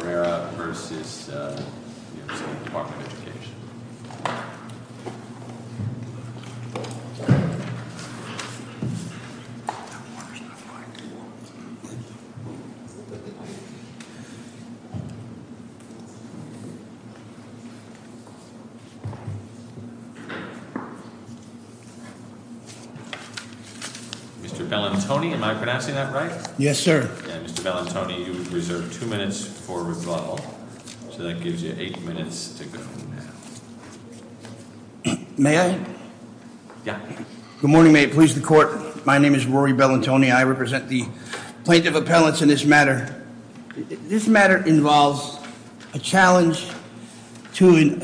v. Department of Education. Mr. Bellantoni, am I pronouncing that right? Yes, sir. And Mr. Bellantoni, you have reserved two minutes for rebuttal. So that gives you eight minutes to go. May I? Yeah. Good morning. May it please the court. My name is Rory Bellantoni. I represent the plaintiff appellants in this matter. This matter involves a challenge to an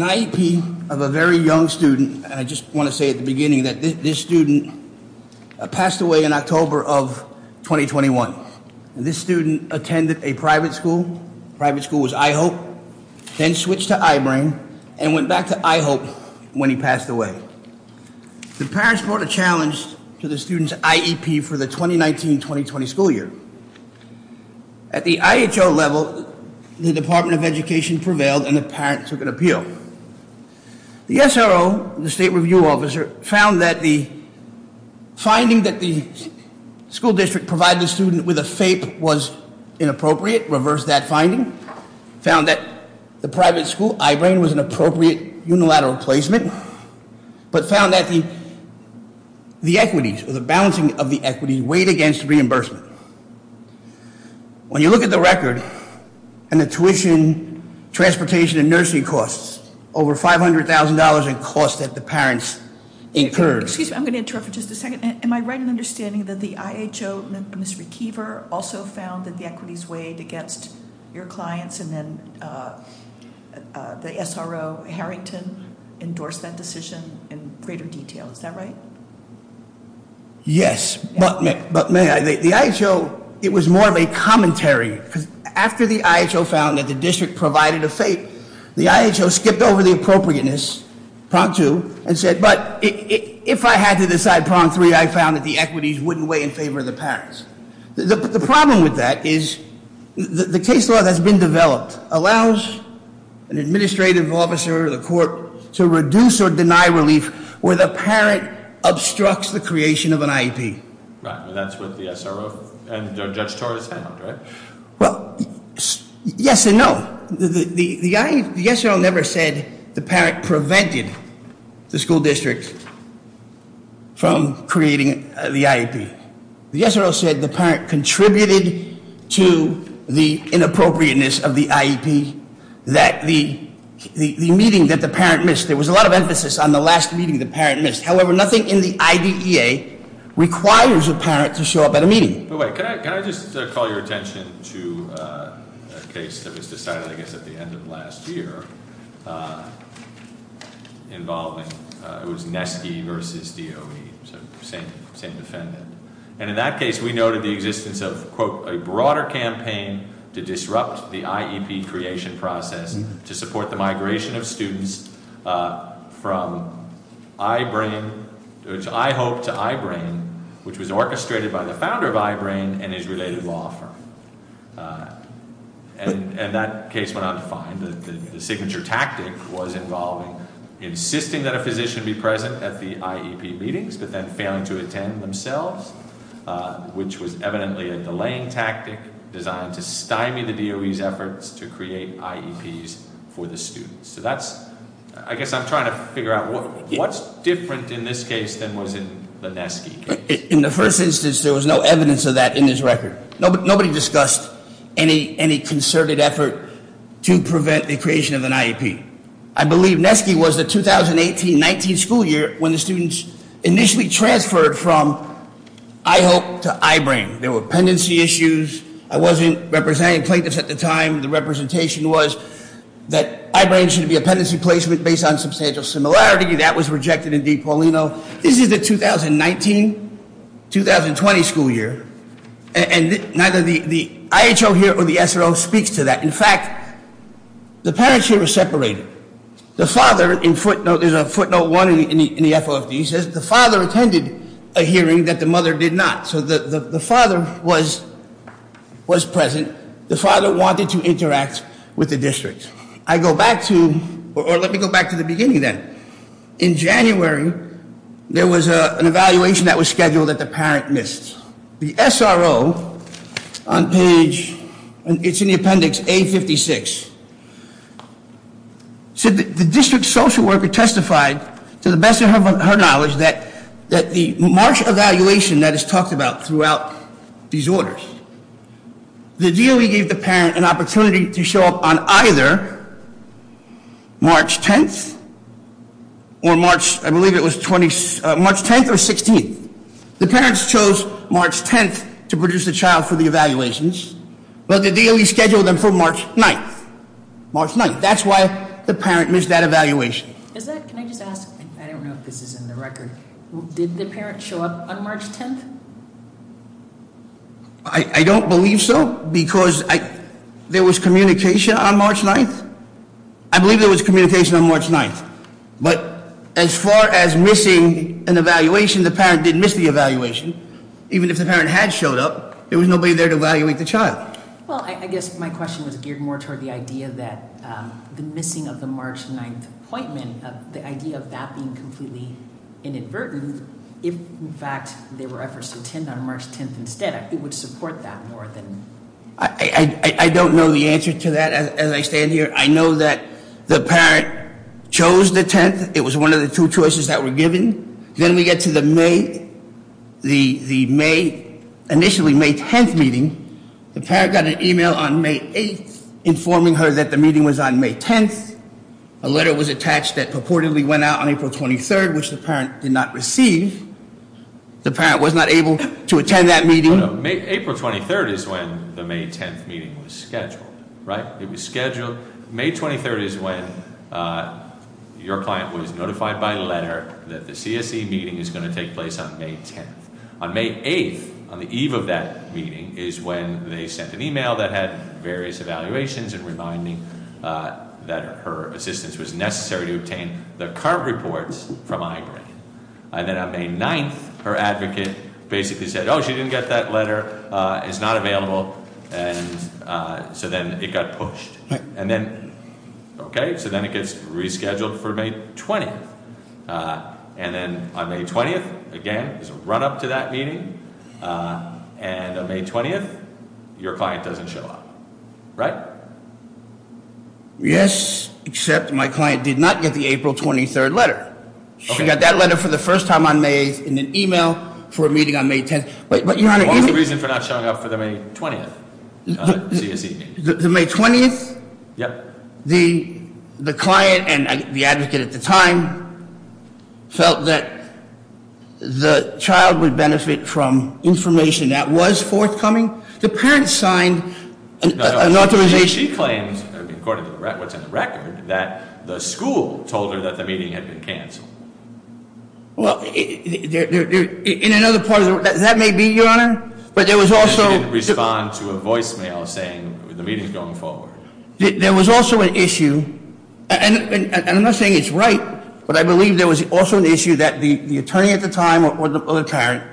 IEP of a very young student. And I just want to say at the beginning that this student passed away in October of 2021. This student attended a private school. The private school was IHOPE. Then switched to I-Brain and went back to IHOPE when he passed away. The parents brought a challenge to the student's IEP for the 2019-2020 school year. At the IHO level, the Department of Education prevailed and the parents took an appeal. The SRO, the state review officer, found that the finding that the school district provided the student with a FAPE was inappropriate, reversed that finding. Found that the private school, I-Brain, was an appropriate unilateral placement. But found that the equities, or the balancing of the equities, weighed against reimbursement. When you look at the record, and the tuition, transportation, and nursing costs. Over $500,000 in costs that the parents incurred. Excuse me, I'm going to interrupt for just a second. Am I right in understanding that the IHO, Mr. Keever, also found that the equities weighed against your clients? And then the SRO, Harrington, endorsed that decision in greater detail. Is that right? Yes. But may I, the IHO, it was more of a commentary, because after the IHO found that the district provided a FAPE, the IHO skipped over the appropriateness, prong two, and said, but if I had to decide prong three, I found that the equities wouldn't weigh in favor of the parents. The problem with that is the case law that's been developed allows an administrative officer or the court to reduce or deny relief where the parent obstructs the creation of an IEP. Right, and that's what the SRO and Judge Torres found, right? Well, yes and no. The SRO never said the parent prevented the school district from creating the IEP. The SRO said the parent contributed to the inappropriateness of the IEP. That the meeting that the parent missed, there was a lot of emphasis on the last meeting the parent missed. However, nothing in the IDEA requires a parent to show up at a meeting. But wait, can I just call your attention to a case that was decided, I guess, at the end of last year involving, it was Neskey versus DOE, so same defendant. And in that case, we noted the existence of, quote, a broader campaign to disrupt the IEP creation process, to support the migration of students from I-Brain, which I hope to I-Brain, which was orchestrated by the founder of I-Brain and his related law firm. And that case went on to find that the signature tactic was involving insisting that a physician be present at the IEP meetings, but then failing to attend themselves, which was evidently a delaying tactic designed to stymie the DOE's efforts to create IEPs for the students. So that's, I guess I'm trying to figure out what's different in this case than was in the Neskey case. In the first instance, there was no evidence of that in this record. Nobody discussed any concerted effort to prevent the creation of an IEP. I believe Neskey was the 2018-19 school year when the students initially transferred from I-Hope to I-Brain. There were pendency issues. I wasn't representing plaintiffs at the time. The representation was that I-Brain should be a pendency placement based on substantial similarity. That was rejected in DePaulino. This is the 2019-2020 school year, and neither the IHO here or the SRO speaks to that. In fact, the parents here were separated. The father, in footnote, there's a footnote one in the FOFD, says the father attended a hearing that the mother did not. So the father was present. The father wanted to interact with the district. I go back to, or let me go back to the beginning then. In January, there was an evaluation that was scheduled that the parent missed. The SRO on page, it's in the appendix A56, said that the district social worker testified, to the best of her knowledge, that the March evaluation that is talked about throughout these orders, the DOE gave the parent an opportunity to show up on either March 10th or March, I believe it was March 10th or 16th. The parents chose March 10th to produce the child for the evaluations, but the DOE scheduled them for March 9th. March 9th, that's why the parent missed that evaluation. Is that, can I just ask, I don't know if this is in the record, did the parent show up on March 10th? I don't believe so, because there was communication on March 9th. I believe there was communication on March 9th. But as far as missing an evaluation, the parent didn't miss the evaluation. Even if the parent had showed up, there was nobody there to evaluate the child. Well, I guess my question was geared more toward the idea that the missing of the March 9th appointment, the idea of that being completely inadvertent, if in fact there were efforts to attend on March 10th instead, it would support that more than. I don't know the answer to that as I stand here. I know that the parent chose the 10th, it was one of the two choices that were given. Then we get to the May, initially May 10th meeting. The parent got an email on May 8th informing her that the meeting was on May 10th. A letter was attached that purportedly went out on April 23rd, which the parent did not receive. The parent was not able to attend that meeting. April 23rd is when the May 10th meeting was scheduled, right? It was scheduled. May 23rd is when your client was notified by letter that the CSE meeting is going to take place on May 10th. On May 8th, on the eve of that meeting, is when they sent an email that had various evaluations and reminding that her assistance was necessary to obtain the current reports from I-RAID. And then on May 9th, her advocate basically said, she didn't get that letter, it's not available. And so then it got pushed. And then, okay, so then it gets rescheduled for May 20th. And then on May 20th, again, there's a run up to that meeting. And on May 20th, your client doesn't show up, right? Yes, except my client did not get the April 23rd letter. She got that letter for the first time on May 8th in an email for a meeting on May 10th. But your Honor- What was the reason for not showing up for the May 20th CSE meeting? The May 20th? Yep. The client and the advocate at the time felt that the child would benefit from information that was forthcoming. The parents signed an authorization- She claims, according to what's in the record, that the school told her that the meeting had been canceled. Well, in another part of the, that may be, Your Honor, but there was also- Respond to a voicemail saying the meeting's going forward. There was also an issue, and I'm not saying it's right, but I believe there was also an issue that the attorney at the time or the parent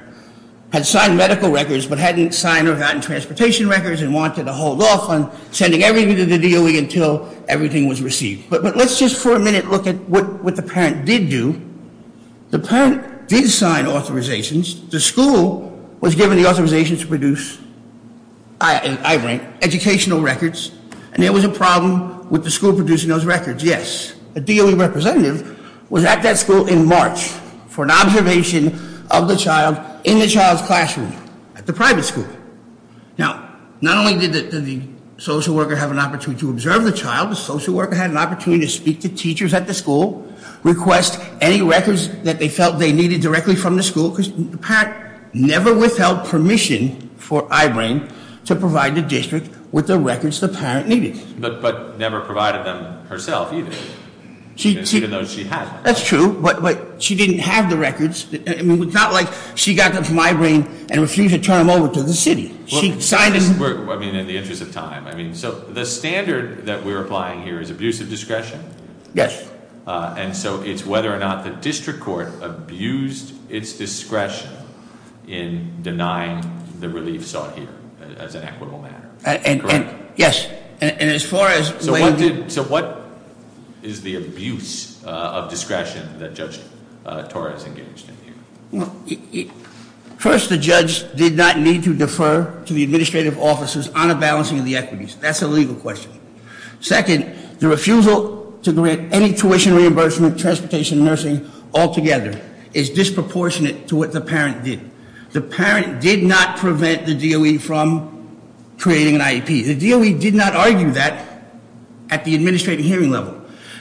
had signed medical records, but hadn't signed or gotten transportation records and wanted to hold off on sending everything to the DOE until everything was received. But let's just for a minute look at what the parent did do. The parent did sign authorizations. The school was given the authorization to produce, I rank, educational records, and there was a problem with the school producing those records, yes. The DOE representative was at that school in March for an observation of the child in the child's classroom at the private school. Now, not only did the social worker have an opportunity to observe the child, the social worker had an opportunity to speak to teachers at the school, request any records that they felt they needed directly from the school, because the parent never withheld permission for I-Brain to provide the district with the records the parent needed. But never provided them herself either, even though she had them. That's true, but she didn't have the records. I mean, it's not like she got them from I-Brain and refused to turn them over to the city. She signed them- I mean, in the interest of time. I mean, so the standard that we're applying here is abuse of discretion. Yes. And so it's whether or not the district court abused its discretion in denying the relief sought here as an equitable matter, correct? Yes, and as far as- So what is the abuse of discretion that Judge Torres engaged in here? Well, first, the judge did not need to defer to the administrative officers on a balancing of the equities. That's a legal question. Second, the refusal to grant any tuition reimbursement, transportation, nursing altogether is disproportionate to what the parent did. The parent did not prevent the DOE from creating an IEP. The DOE did not argue that at the administrative hearing level.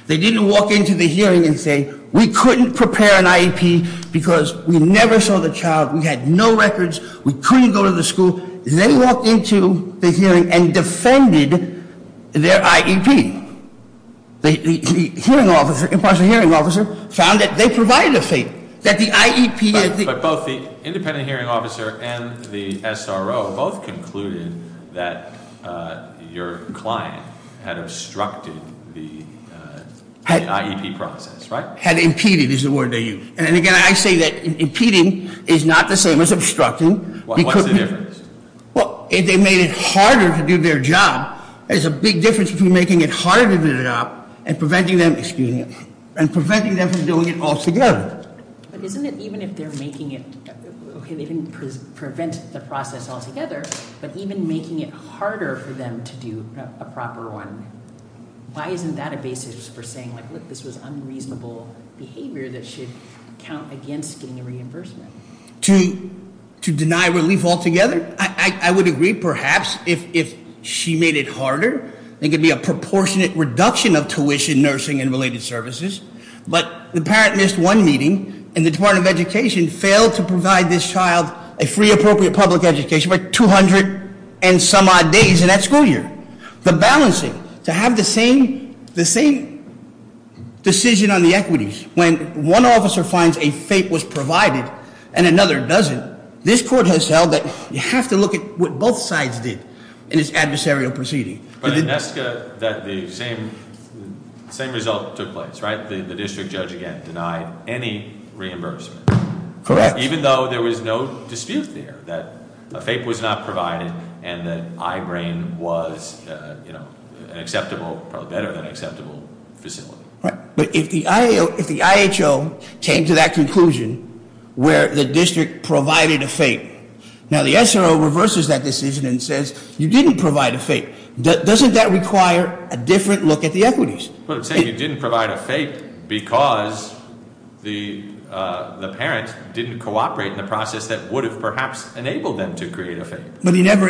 They didn't walk into the hearing and say, we couldn't prepare an IEP because we never saw the child. We had no records. We couldn't go to the school. They walked into the hearing and defended their IEP. The hearing officer, impartial hearing officer, found that they provided a fee, that the IEP is the- And the hearing officer and the SRO both concluded that your client had obstructed the IEP process, right? Had impeded is the word they used. And again, I say that impeding is not the same as obstructing. What's the difference? Well, if they made it harder to do their job, there's a big difference between making it harder to do their job and preventing them from doing it all together. But isn't it even if they're making it, okay, they didn't prevent the process all together, but even making it harder for them to do a proper one. Why isn't that a basis for saying, look, this was unreasonable behavior that should count against getting a reimbursement? To deny relief altogether? I would agree, perhaps, if she made it harder, it could be a proportionate reduction of tuition, nursing, and related services. But the parent missed one meeting, and the Department of Education failed to provide this child a free, appropriate public education for 200 and some odd days in that school year. The balancing, to have the same decision on the equities. When one officer finds a fee was provided and another doesn't, this court has held that you have to look at what both sides did in this adversarial proceeding. But in Nesca, the same result took place, right? The district judge again denied any reimbursement. Correct. Even though there was no dispute there that a FAPE was not provided and that I-Brain was an acceptable, probably better than acceptable facility. Right, but if the IHO came to that conclusion where the district provided a FAPE. Now the SRO reverses that decision and says, you didn't provide a FAPE. Doesn't that require a different look at the equities? But say you didn't provide a FAPE because the parent didn't cooperate in the process that would have perhaps enabled them to create a FAPE. But he never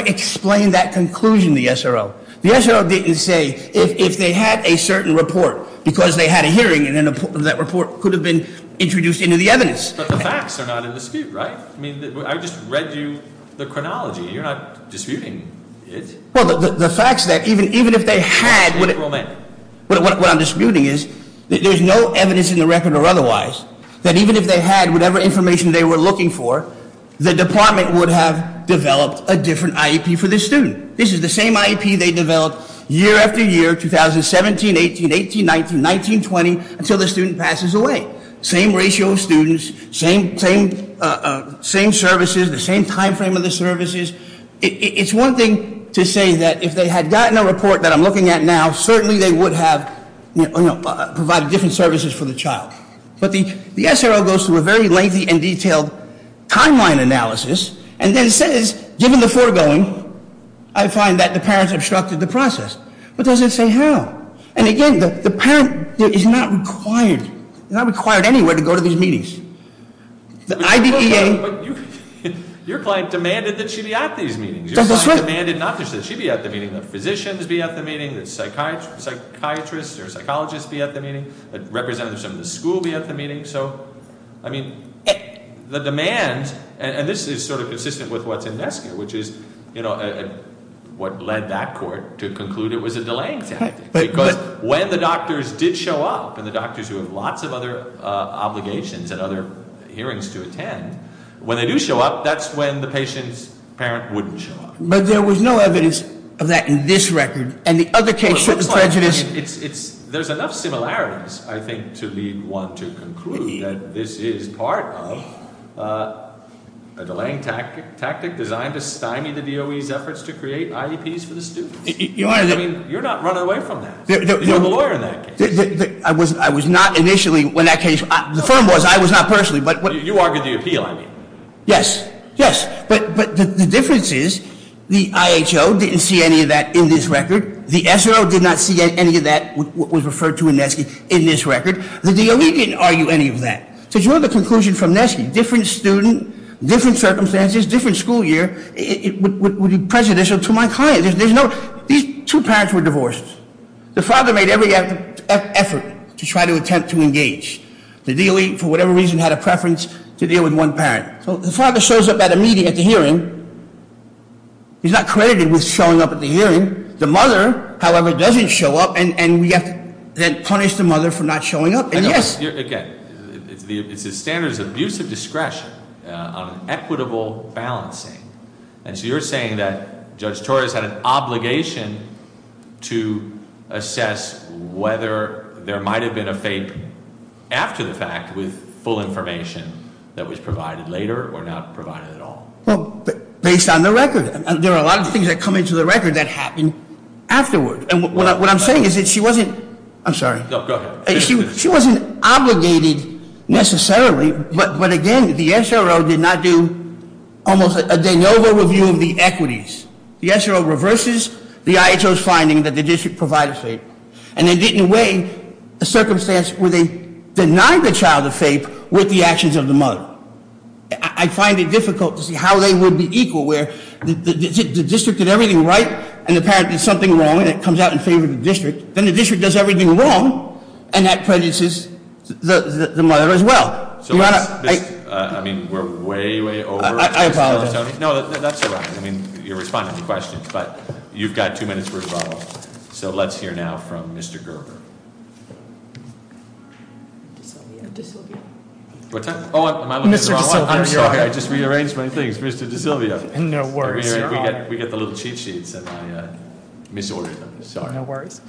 explained that conclusion, the SRO. The SRO didn't say, if they had a certain report, because they had a hearing, and then that report could have been introduced into the evidence. But the facts are not in dispute, right? I mean, I just read you the chronology, you're not disputing it. Well, the fact's that even if they had- Interim. What I'm disputing is that there's no evidence in the record or otherwise that even if they had whatever information they were looking for, the department would have developed a different IEP for this student. This is the same IEP they developed year after year, 2017, 18, 18, 19, 19, 20, until the student passes away. Same ratio of students, same services, the same time frame of the services. It's one thing to say that if they had gotten a report that I'm looking at now, certainly they would have provided different services for the child. But the SRO goes through a very lengthy and detailed timeline analysis, and then says, given the foregoing, I find that the parents obstructed the process. But does it say how? And again, the parent is not required, not required anywhere to go to these meetings. The IDPA- Your client demanded that she be at these meetings. Your client demanded not that she be at the meeting, that physicians be at the meeting, that psychiatrists or psychologists be at the meeting, that representatives of the school be at the meeting. So, I mean, the demand, and this is sort of consistent with what's in Nesca, which is what led that court to conclude it was a delaying tactic. Because when the doctors did show up, and the doctors who have lots of other obligations and other hearings to attend, when they do show up, that's when the patient's parent wouldn't show up. But there was no evidence of that in this record, and the other case showed the prejudice. There's enough similarities, I think, to lead one to conclude that this is part of a delaying tactic designed to stymie the DOE's efforts to create IEPs for the students. I mean, you're not running away from that. You're the lawyer in that case. I was not initially, when that case, the firm was, I was not personally, but- You argued the appeal, I mean. Yes, yes, but the difference is the IHO didn't see any of that in this record. The SRO did not see any of that, what was referred to in Nesca, in this record. The DOE didn't argue any of that. To draw the conclusion from Nesca, different student, different circumstances, different school year, would be prejudicial to my client. These two parents were divorced. The father made every effort to try to attempt to engage. The DOE, for whatever reason, had a preference to deal with one parent. So the father shows up at a meeting, at the hearing, he's not credited with showing up at the hearing. The mother, however, doesn't show up, and we have to then punish the mother for not showing up. And yes- Again, it's the standards of abusive discretion on equitable balancing. And so you're saying that Judge Torres had an obligation to assess whether there might have been a fape after the fact with full information that was provided later or not provided at all. Well, based on the record, and there are a lot of things that come into the record that happen afterward. And what I'm saying is that she wasn't, I'm sorry. No, go ahead. She wasn't obligated necessarily, but again, the SRO did not do almost a de novo review of the equities. The SRO reverses the IHO's finding that the district provided fape. And they did in a way, a circumstance where they denied the child a fape with the actions of the mother. I find it difficult to see how they would be equal, where the district did everything right, and then apparently something wrong, and it comes out in favor of the district. Then the district does everything wrong, and that prejudices the mother as well. You gotta- I mean, we're way, way over. I apologize. No, that's all right. I mean, you're responding to questions, but you've got two minutes for rebuttals. So let's hear now from Mr. Gerber. DeSilvia, DeSilvia. What time? Am I looking at the wrong one? I'm sorry, I just rearranged my things. Mr. DeSilvia. No worries. We get the little cheat sheets and I misordered them. Sorry. No worries.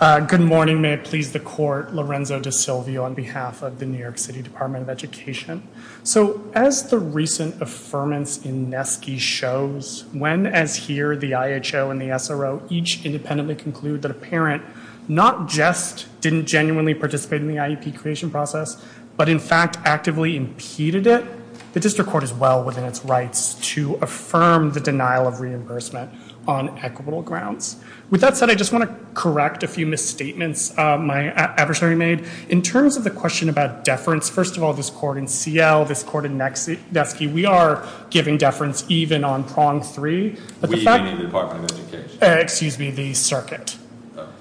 Good morning. May it please the court, Lorenzo DeSilvia on behalf of the New York City Department of Education. So as the recent affirmance in Nesky shows, when, as here, the IHO and the SRO each independently conclude that a parent not just didn't genuinely participate in the IEP creation process, but in fact actively impeded it, the district court is well within its rights to affirm the denial of reimbursement on equitable grounds. With that said, I just want to correct a few misstatements my adversary made. In terms of the question about deference, first of all, this court in CL, this court in Nesky, we are giving deference even on prong three. We, meaning the Department of Education? Excuse me, the circuit.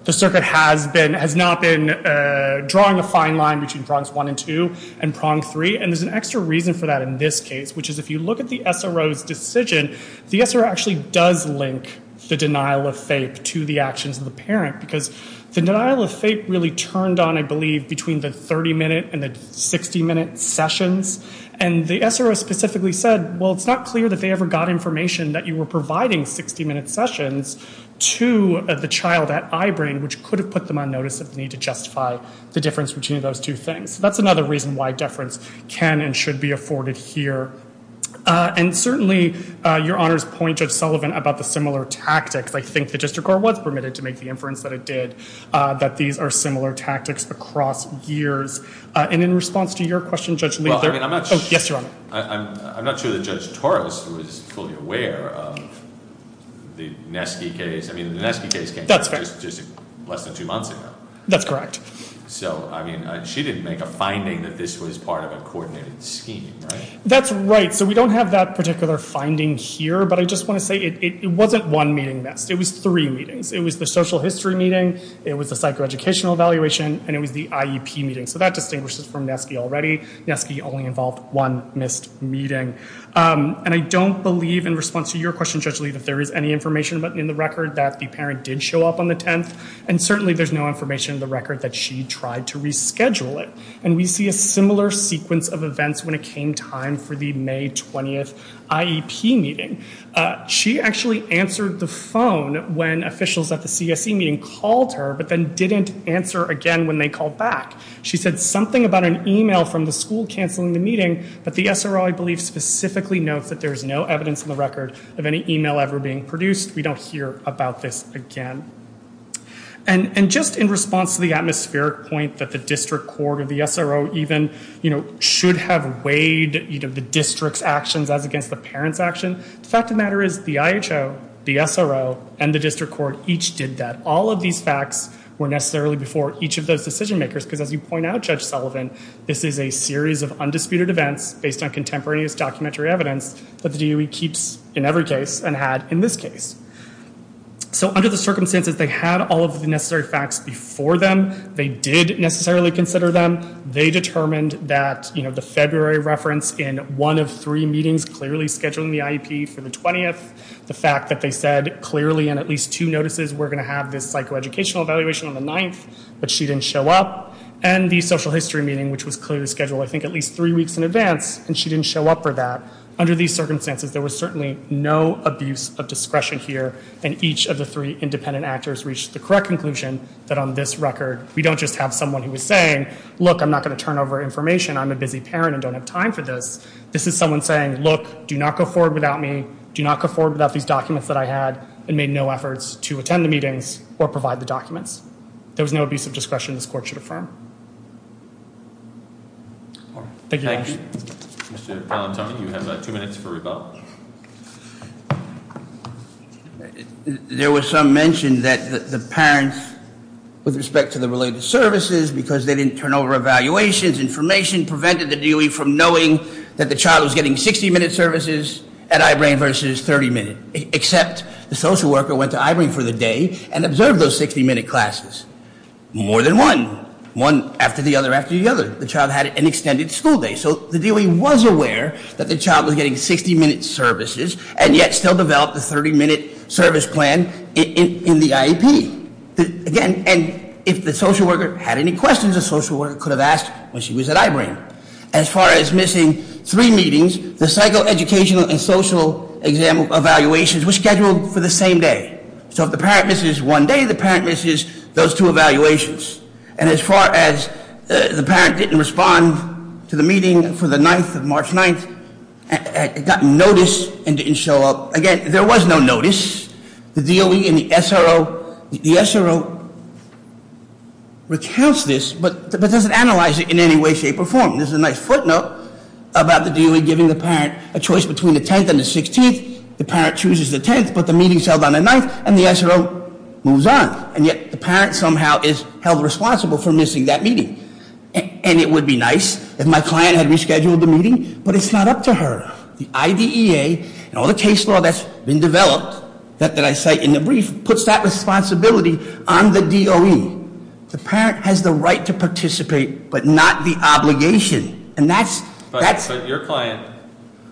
The circuit has not been drawing a fine line between prongs one and two and prong three. And there's an extra reason for that in this case, which is if you look at the SRO's decision, the SRO actually does link the denial of FAPE to the actions of the parent, because the denial of FAPE really turned on, I believe, between the 30-minute and the 60-minute sessions. And the SRO specifically said, well, it's not clear that they ever got information that you were providing 60-minute sessions to the child at I-Brain, which could have put them on notice of the need to justify the difference between those two things. So that's another reason why deference can and should be afforded here. And certainly, Your Honor's point, Judge Sullivan, about the similar tactics. I think the district court was permitted to make the inference that it did, that these are similar tactics across years. And in response to your question, Judge Lee, there- Well, I mean, I'm not sure- Yes, Your Honor. I'm not sure that Judge Torres was fully aware of the Nesky case. I mean, the Nesky case came out just less than two months ago. That's correct. So, I mean, she didn't make a finding that this was part of a coordinated scheme, right? That's right. So we don't have that particular finding here. But I just want to say it wasn't one meeting missed. It was three meetings. It was the social history meeting, it was the psychoeducational evaluation, and it was the IEP meeting. So that distinguishes from Nesky already. Nesky only involved one missed meeting. And I don't believe, in response to your question, Judge Lee, that there is any information in the record that the parent did show up on the 10th. And certainly there's no information in the record that she tried to reschedule it. And we see a similar sequence of events when it came time for the May 20th IEP meeting. She actually answered the phone when officials at the CSE meeting called her, but then didn't answer again when they called back. She said something about an email from the school canceling the meeting, but the SRO, I believe, specifically notes that there is no evidence in the record of any email ever being produced. We don't hear about this again. And just in response to the atmospheric point that the district court or the SRO even, you know, should have weighed, you know, the district's actions as against the parent's action, the fact of the matter is the IHO, the SRO, and the district court each did that. All of these facts were necessarily before each of those decision makers, because as you point out, Judge Sullivan, this is a series of undisputed events based on contemporaneous documentary evidence that the DOE keeps in every case and had in this case. So under the circumstances, they had all of the necessary facts before them. They did necessarily consider them. They determined that, you know, the February reference in one of three meetings clearly scheduling the IEP for the 20th, the fact that they said clearly in at least two notices we're going to have this psychoeducational evaluation on the 9th, but she didn't show up, and the social history meeting, which was clearly scheduled, I think, at least three weeks in advance, and she didn't show up for that. Under these circumstances, there was certainly no abuse of discretion here, and each of the three independent actors reached the correct conclusion that on this record, we don't just have someone who was saying, look, I'm not going to turn over information. I'm a busy parent and don't have time for this. This is someone saying, look, do not go forward without me. Do not go forward without these documents that I had, and made no efforts to attend the meetings or provide the documents. There was no abuse of discretion this court should affirm. Thank you. Mr. Palantone, you have two minutes for rebuttal. There was some mention that the parents, with respect to the related services, because they didn't turn over evaluations, information prevented the DOE from knowing that the child was getting 60 minute services at I-Brain versus 30 minute. Except the social worker went to I-Brain for the day and observed those 60 minute classes. More than one. One after the other after the other. The child had an extended school day. So the DOE was aware that the child was getting 60 minute services, and yet still developed the 30 minute service plan in the IEP. Again, and if the social worker had any questions, the social worker could have asked when she was at I-Brain. As far as missing three meetings, the psychoeducational and social evaluations were scheduled for the same day. So if the parent misses one day, the parent misses those two evaluations. And as far as the parent didn't respond to the meeting for the 9th of March 9th, it got noticed and didn't show up. Again, there was no notice. The DOE and the SRO, the SRO recounts this, but doesn't analyze it in any way, shape, or form. This is a nice footnote about the DOE giving the parent a choice between the 10th and the 16th. The parent chooses the 10th, but the meeting's held on the 9th, and the SRO moves on. And yet, the parent somehow is held responsible for missing that meeting. And it would be nice if my client had rescheduled the meeting, but it's not up to her. The IDEA and all the case law that's been developed, that I cite in the brief, puts that responsibility on the DOE. The parent has the right to participate, but not the obligation. And that's- But your client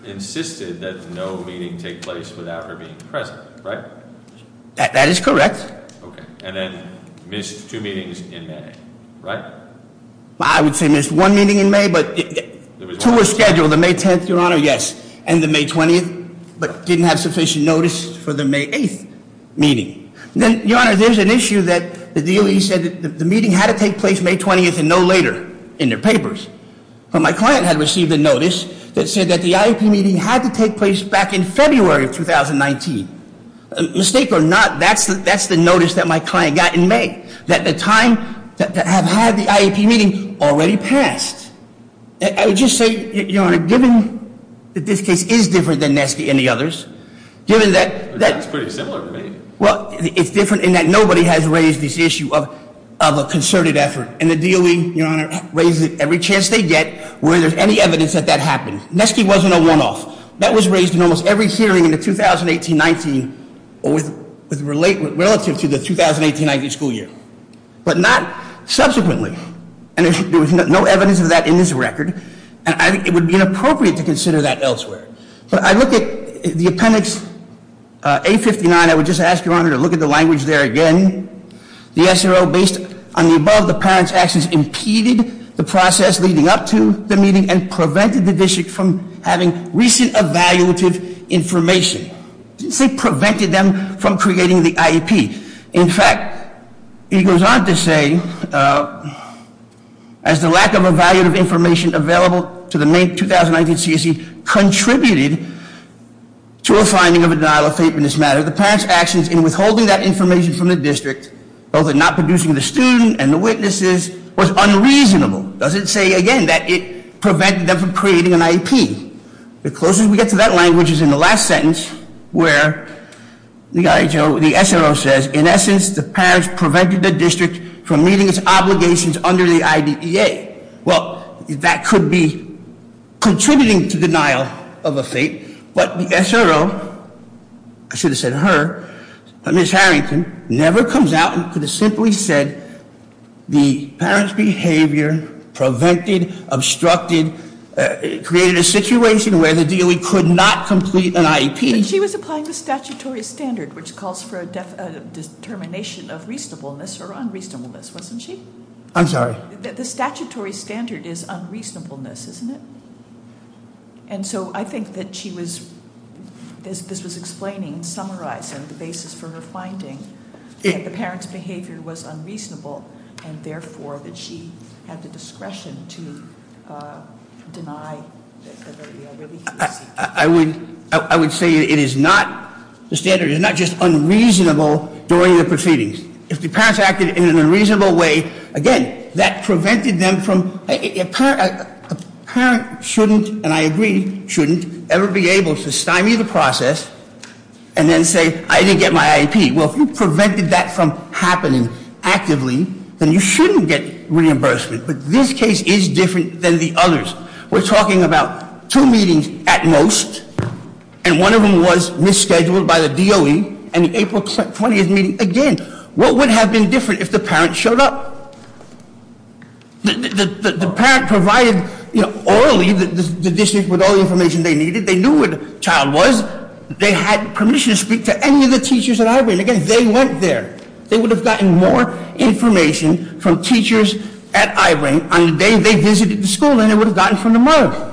insisted that no meeting take place without her being present, right? That is correct. Okay, and then missed two meetings in May, right? I would say missed one meeting in May, but two were scheduled, the May 10th, Your Honor, yes. And the May 20th, but didn't have sufficient notice for the May 8th meeting. Then, Your Honor, there's an issue that the DOE said that the meeting had to take place May 20th and no later in their papers. But my client had received a notice that said that the IEP meeting had to take place back in February of 2019. Mistake or not, that's the notice that my client got in May, that the time that have had the IEP meeting already passed. I would just say, Your Honor, given that this case is different than Nesky and the others, given that- That's pretty similar to me. Well, it's different in that nobody has raised this issue of a concerted effort. And the DOE, Your Honor, raises it every chance they get, whether there's any evidence that that happened. Nesky wasn't a one-off. That was raised in almost every hearing in the 2018-19, relative to the 2018-19 school year. But not subsequently. And there was no evidence of that in this record, and I think it would be inappropriate to consider that elsewhere. But I look at the appendix 859, I would just ask, Your Honor, to look at the language there again. The SRO, based on the above, the parent's actions impeded the process leading up to the meeting and prevented the district from having recent evaluative information. Didn't say prevented them from creating the IEP. In fact, it goes on to say, as the lack of evaluative information available to the May 2019 CSE contributed to a finding of a denial of fate in this matter. The parent's actions in withholding that information from the district, both in not producing the student and the witnesses, was unreasonable. Doesn't say, again, that it prevented them from creating an IEP. The closest we get to that language is in the last sentence, where the SRO says, in essence, the parents prevented the district from meeting its obligations under the IDEA. Well, that could be contributing to denial of a fate. But the SRO, I should have said her, Ms. Harrington, never comes out and could have simply said the parent's behavior prevented, obstructed, created a situation where the DOE could not complete an IEP. She was applying the statutory standard, which calls for a determination of reasonableness or unreasonableness, wasn't she? I'm sorry? The statutory standard is unreasonableness, isn't it? And so I think that she was, as this was explaining and summarizing the basis for her finding, that the parent's behavior was unreasonable, and therefore that she had the discretion to deny the IAEA release. I would say it is not, the standard is not just unreasonable during the proceedings. If the parents acted in an unreasonable way, again, that prevented them from, a parent shouldn't, and I agree, shouldn't, ever be able to stymie the process and then say, I didn't get my IEP. Well, if you prevented that from happening actively, then you shouldn't get reimbursement. But this case is different than the others. We're talking about two meetings at most, and one of them was misscheduled by the DOE, and the April 20th meeting, again. What would have been different if the parent showed up? The parent provided orally the district with all the information they needed. They knew where the child was. They had permission to speak to any of the teachers at I-Rain. Again, they went there. They would have gotten more information from teachers at I-Rain on the day they visited the school than they would have gotten from the mother.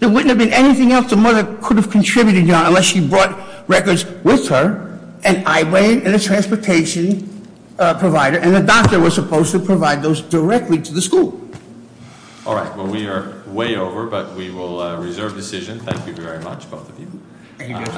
There wouldn't have been anything else the mother could have contributed to unless she brought records with her, and I-Rain, and a transportation provider, and the doctor was supposed to provide those directly to the school. All right, well, we are way over, but we will reserve decision. Thank you very much, both of you. Thank you.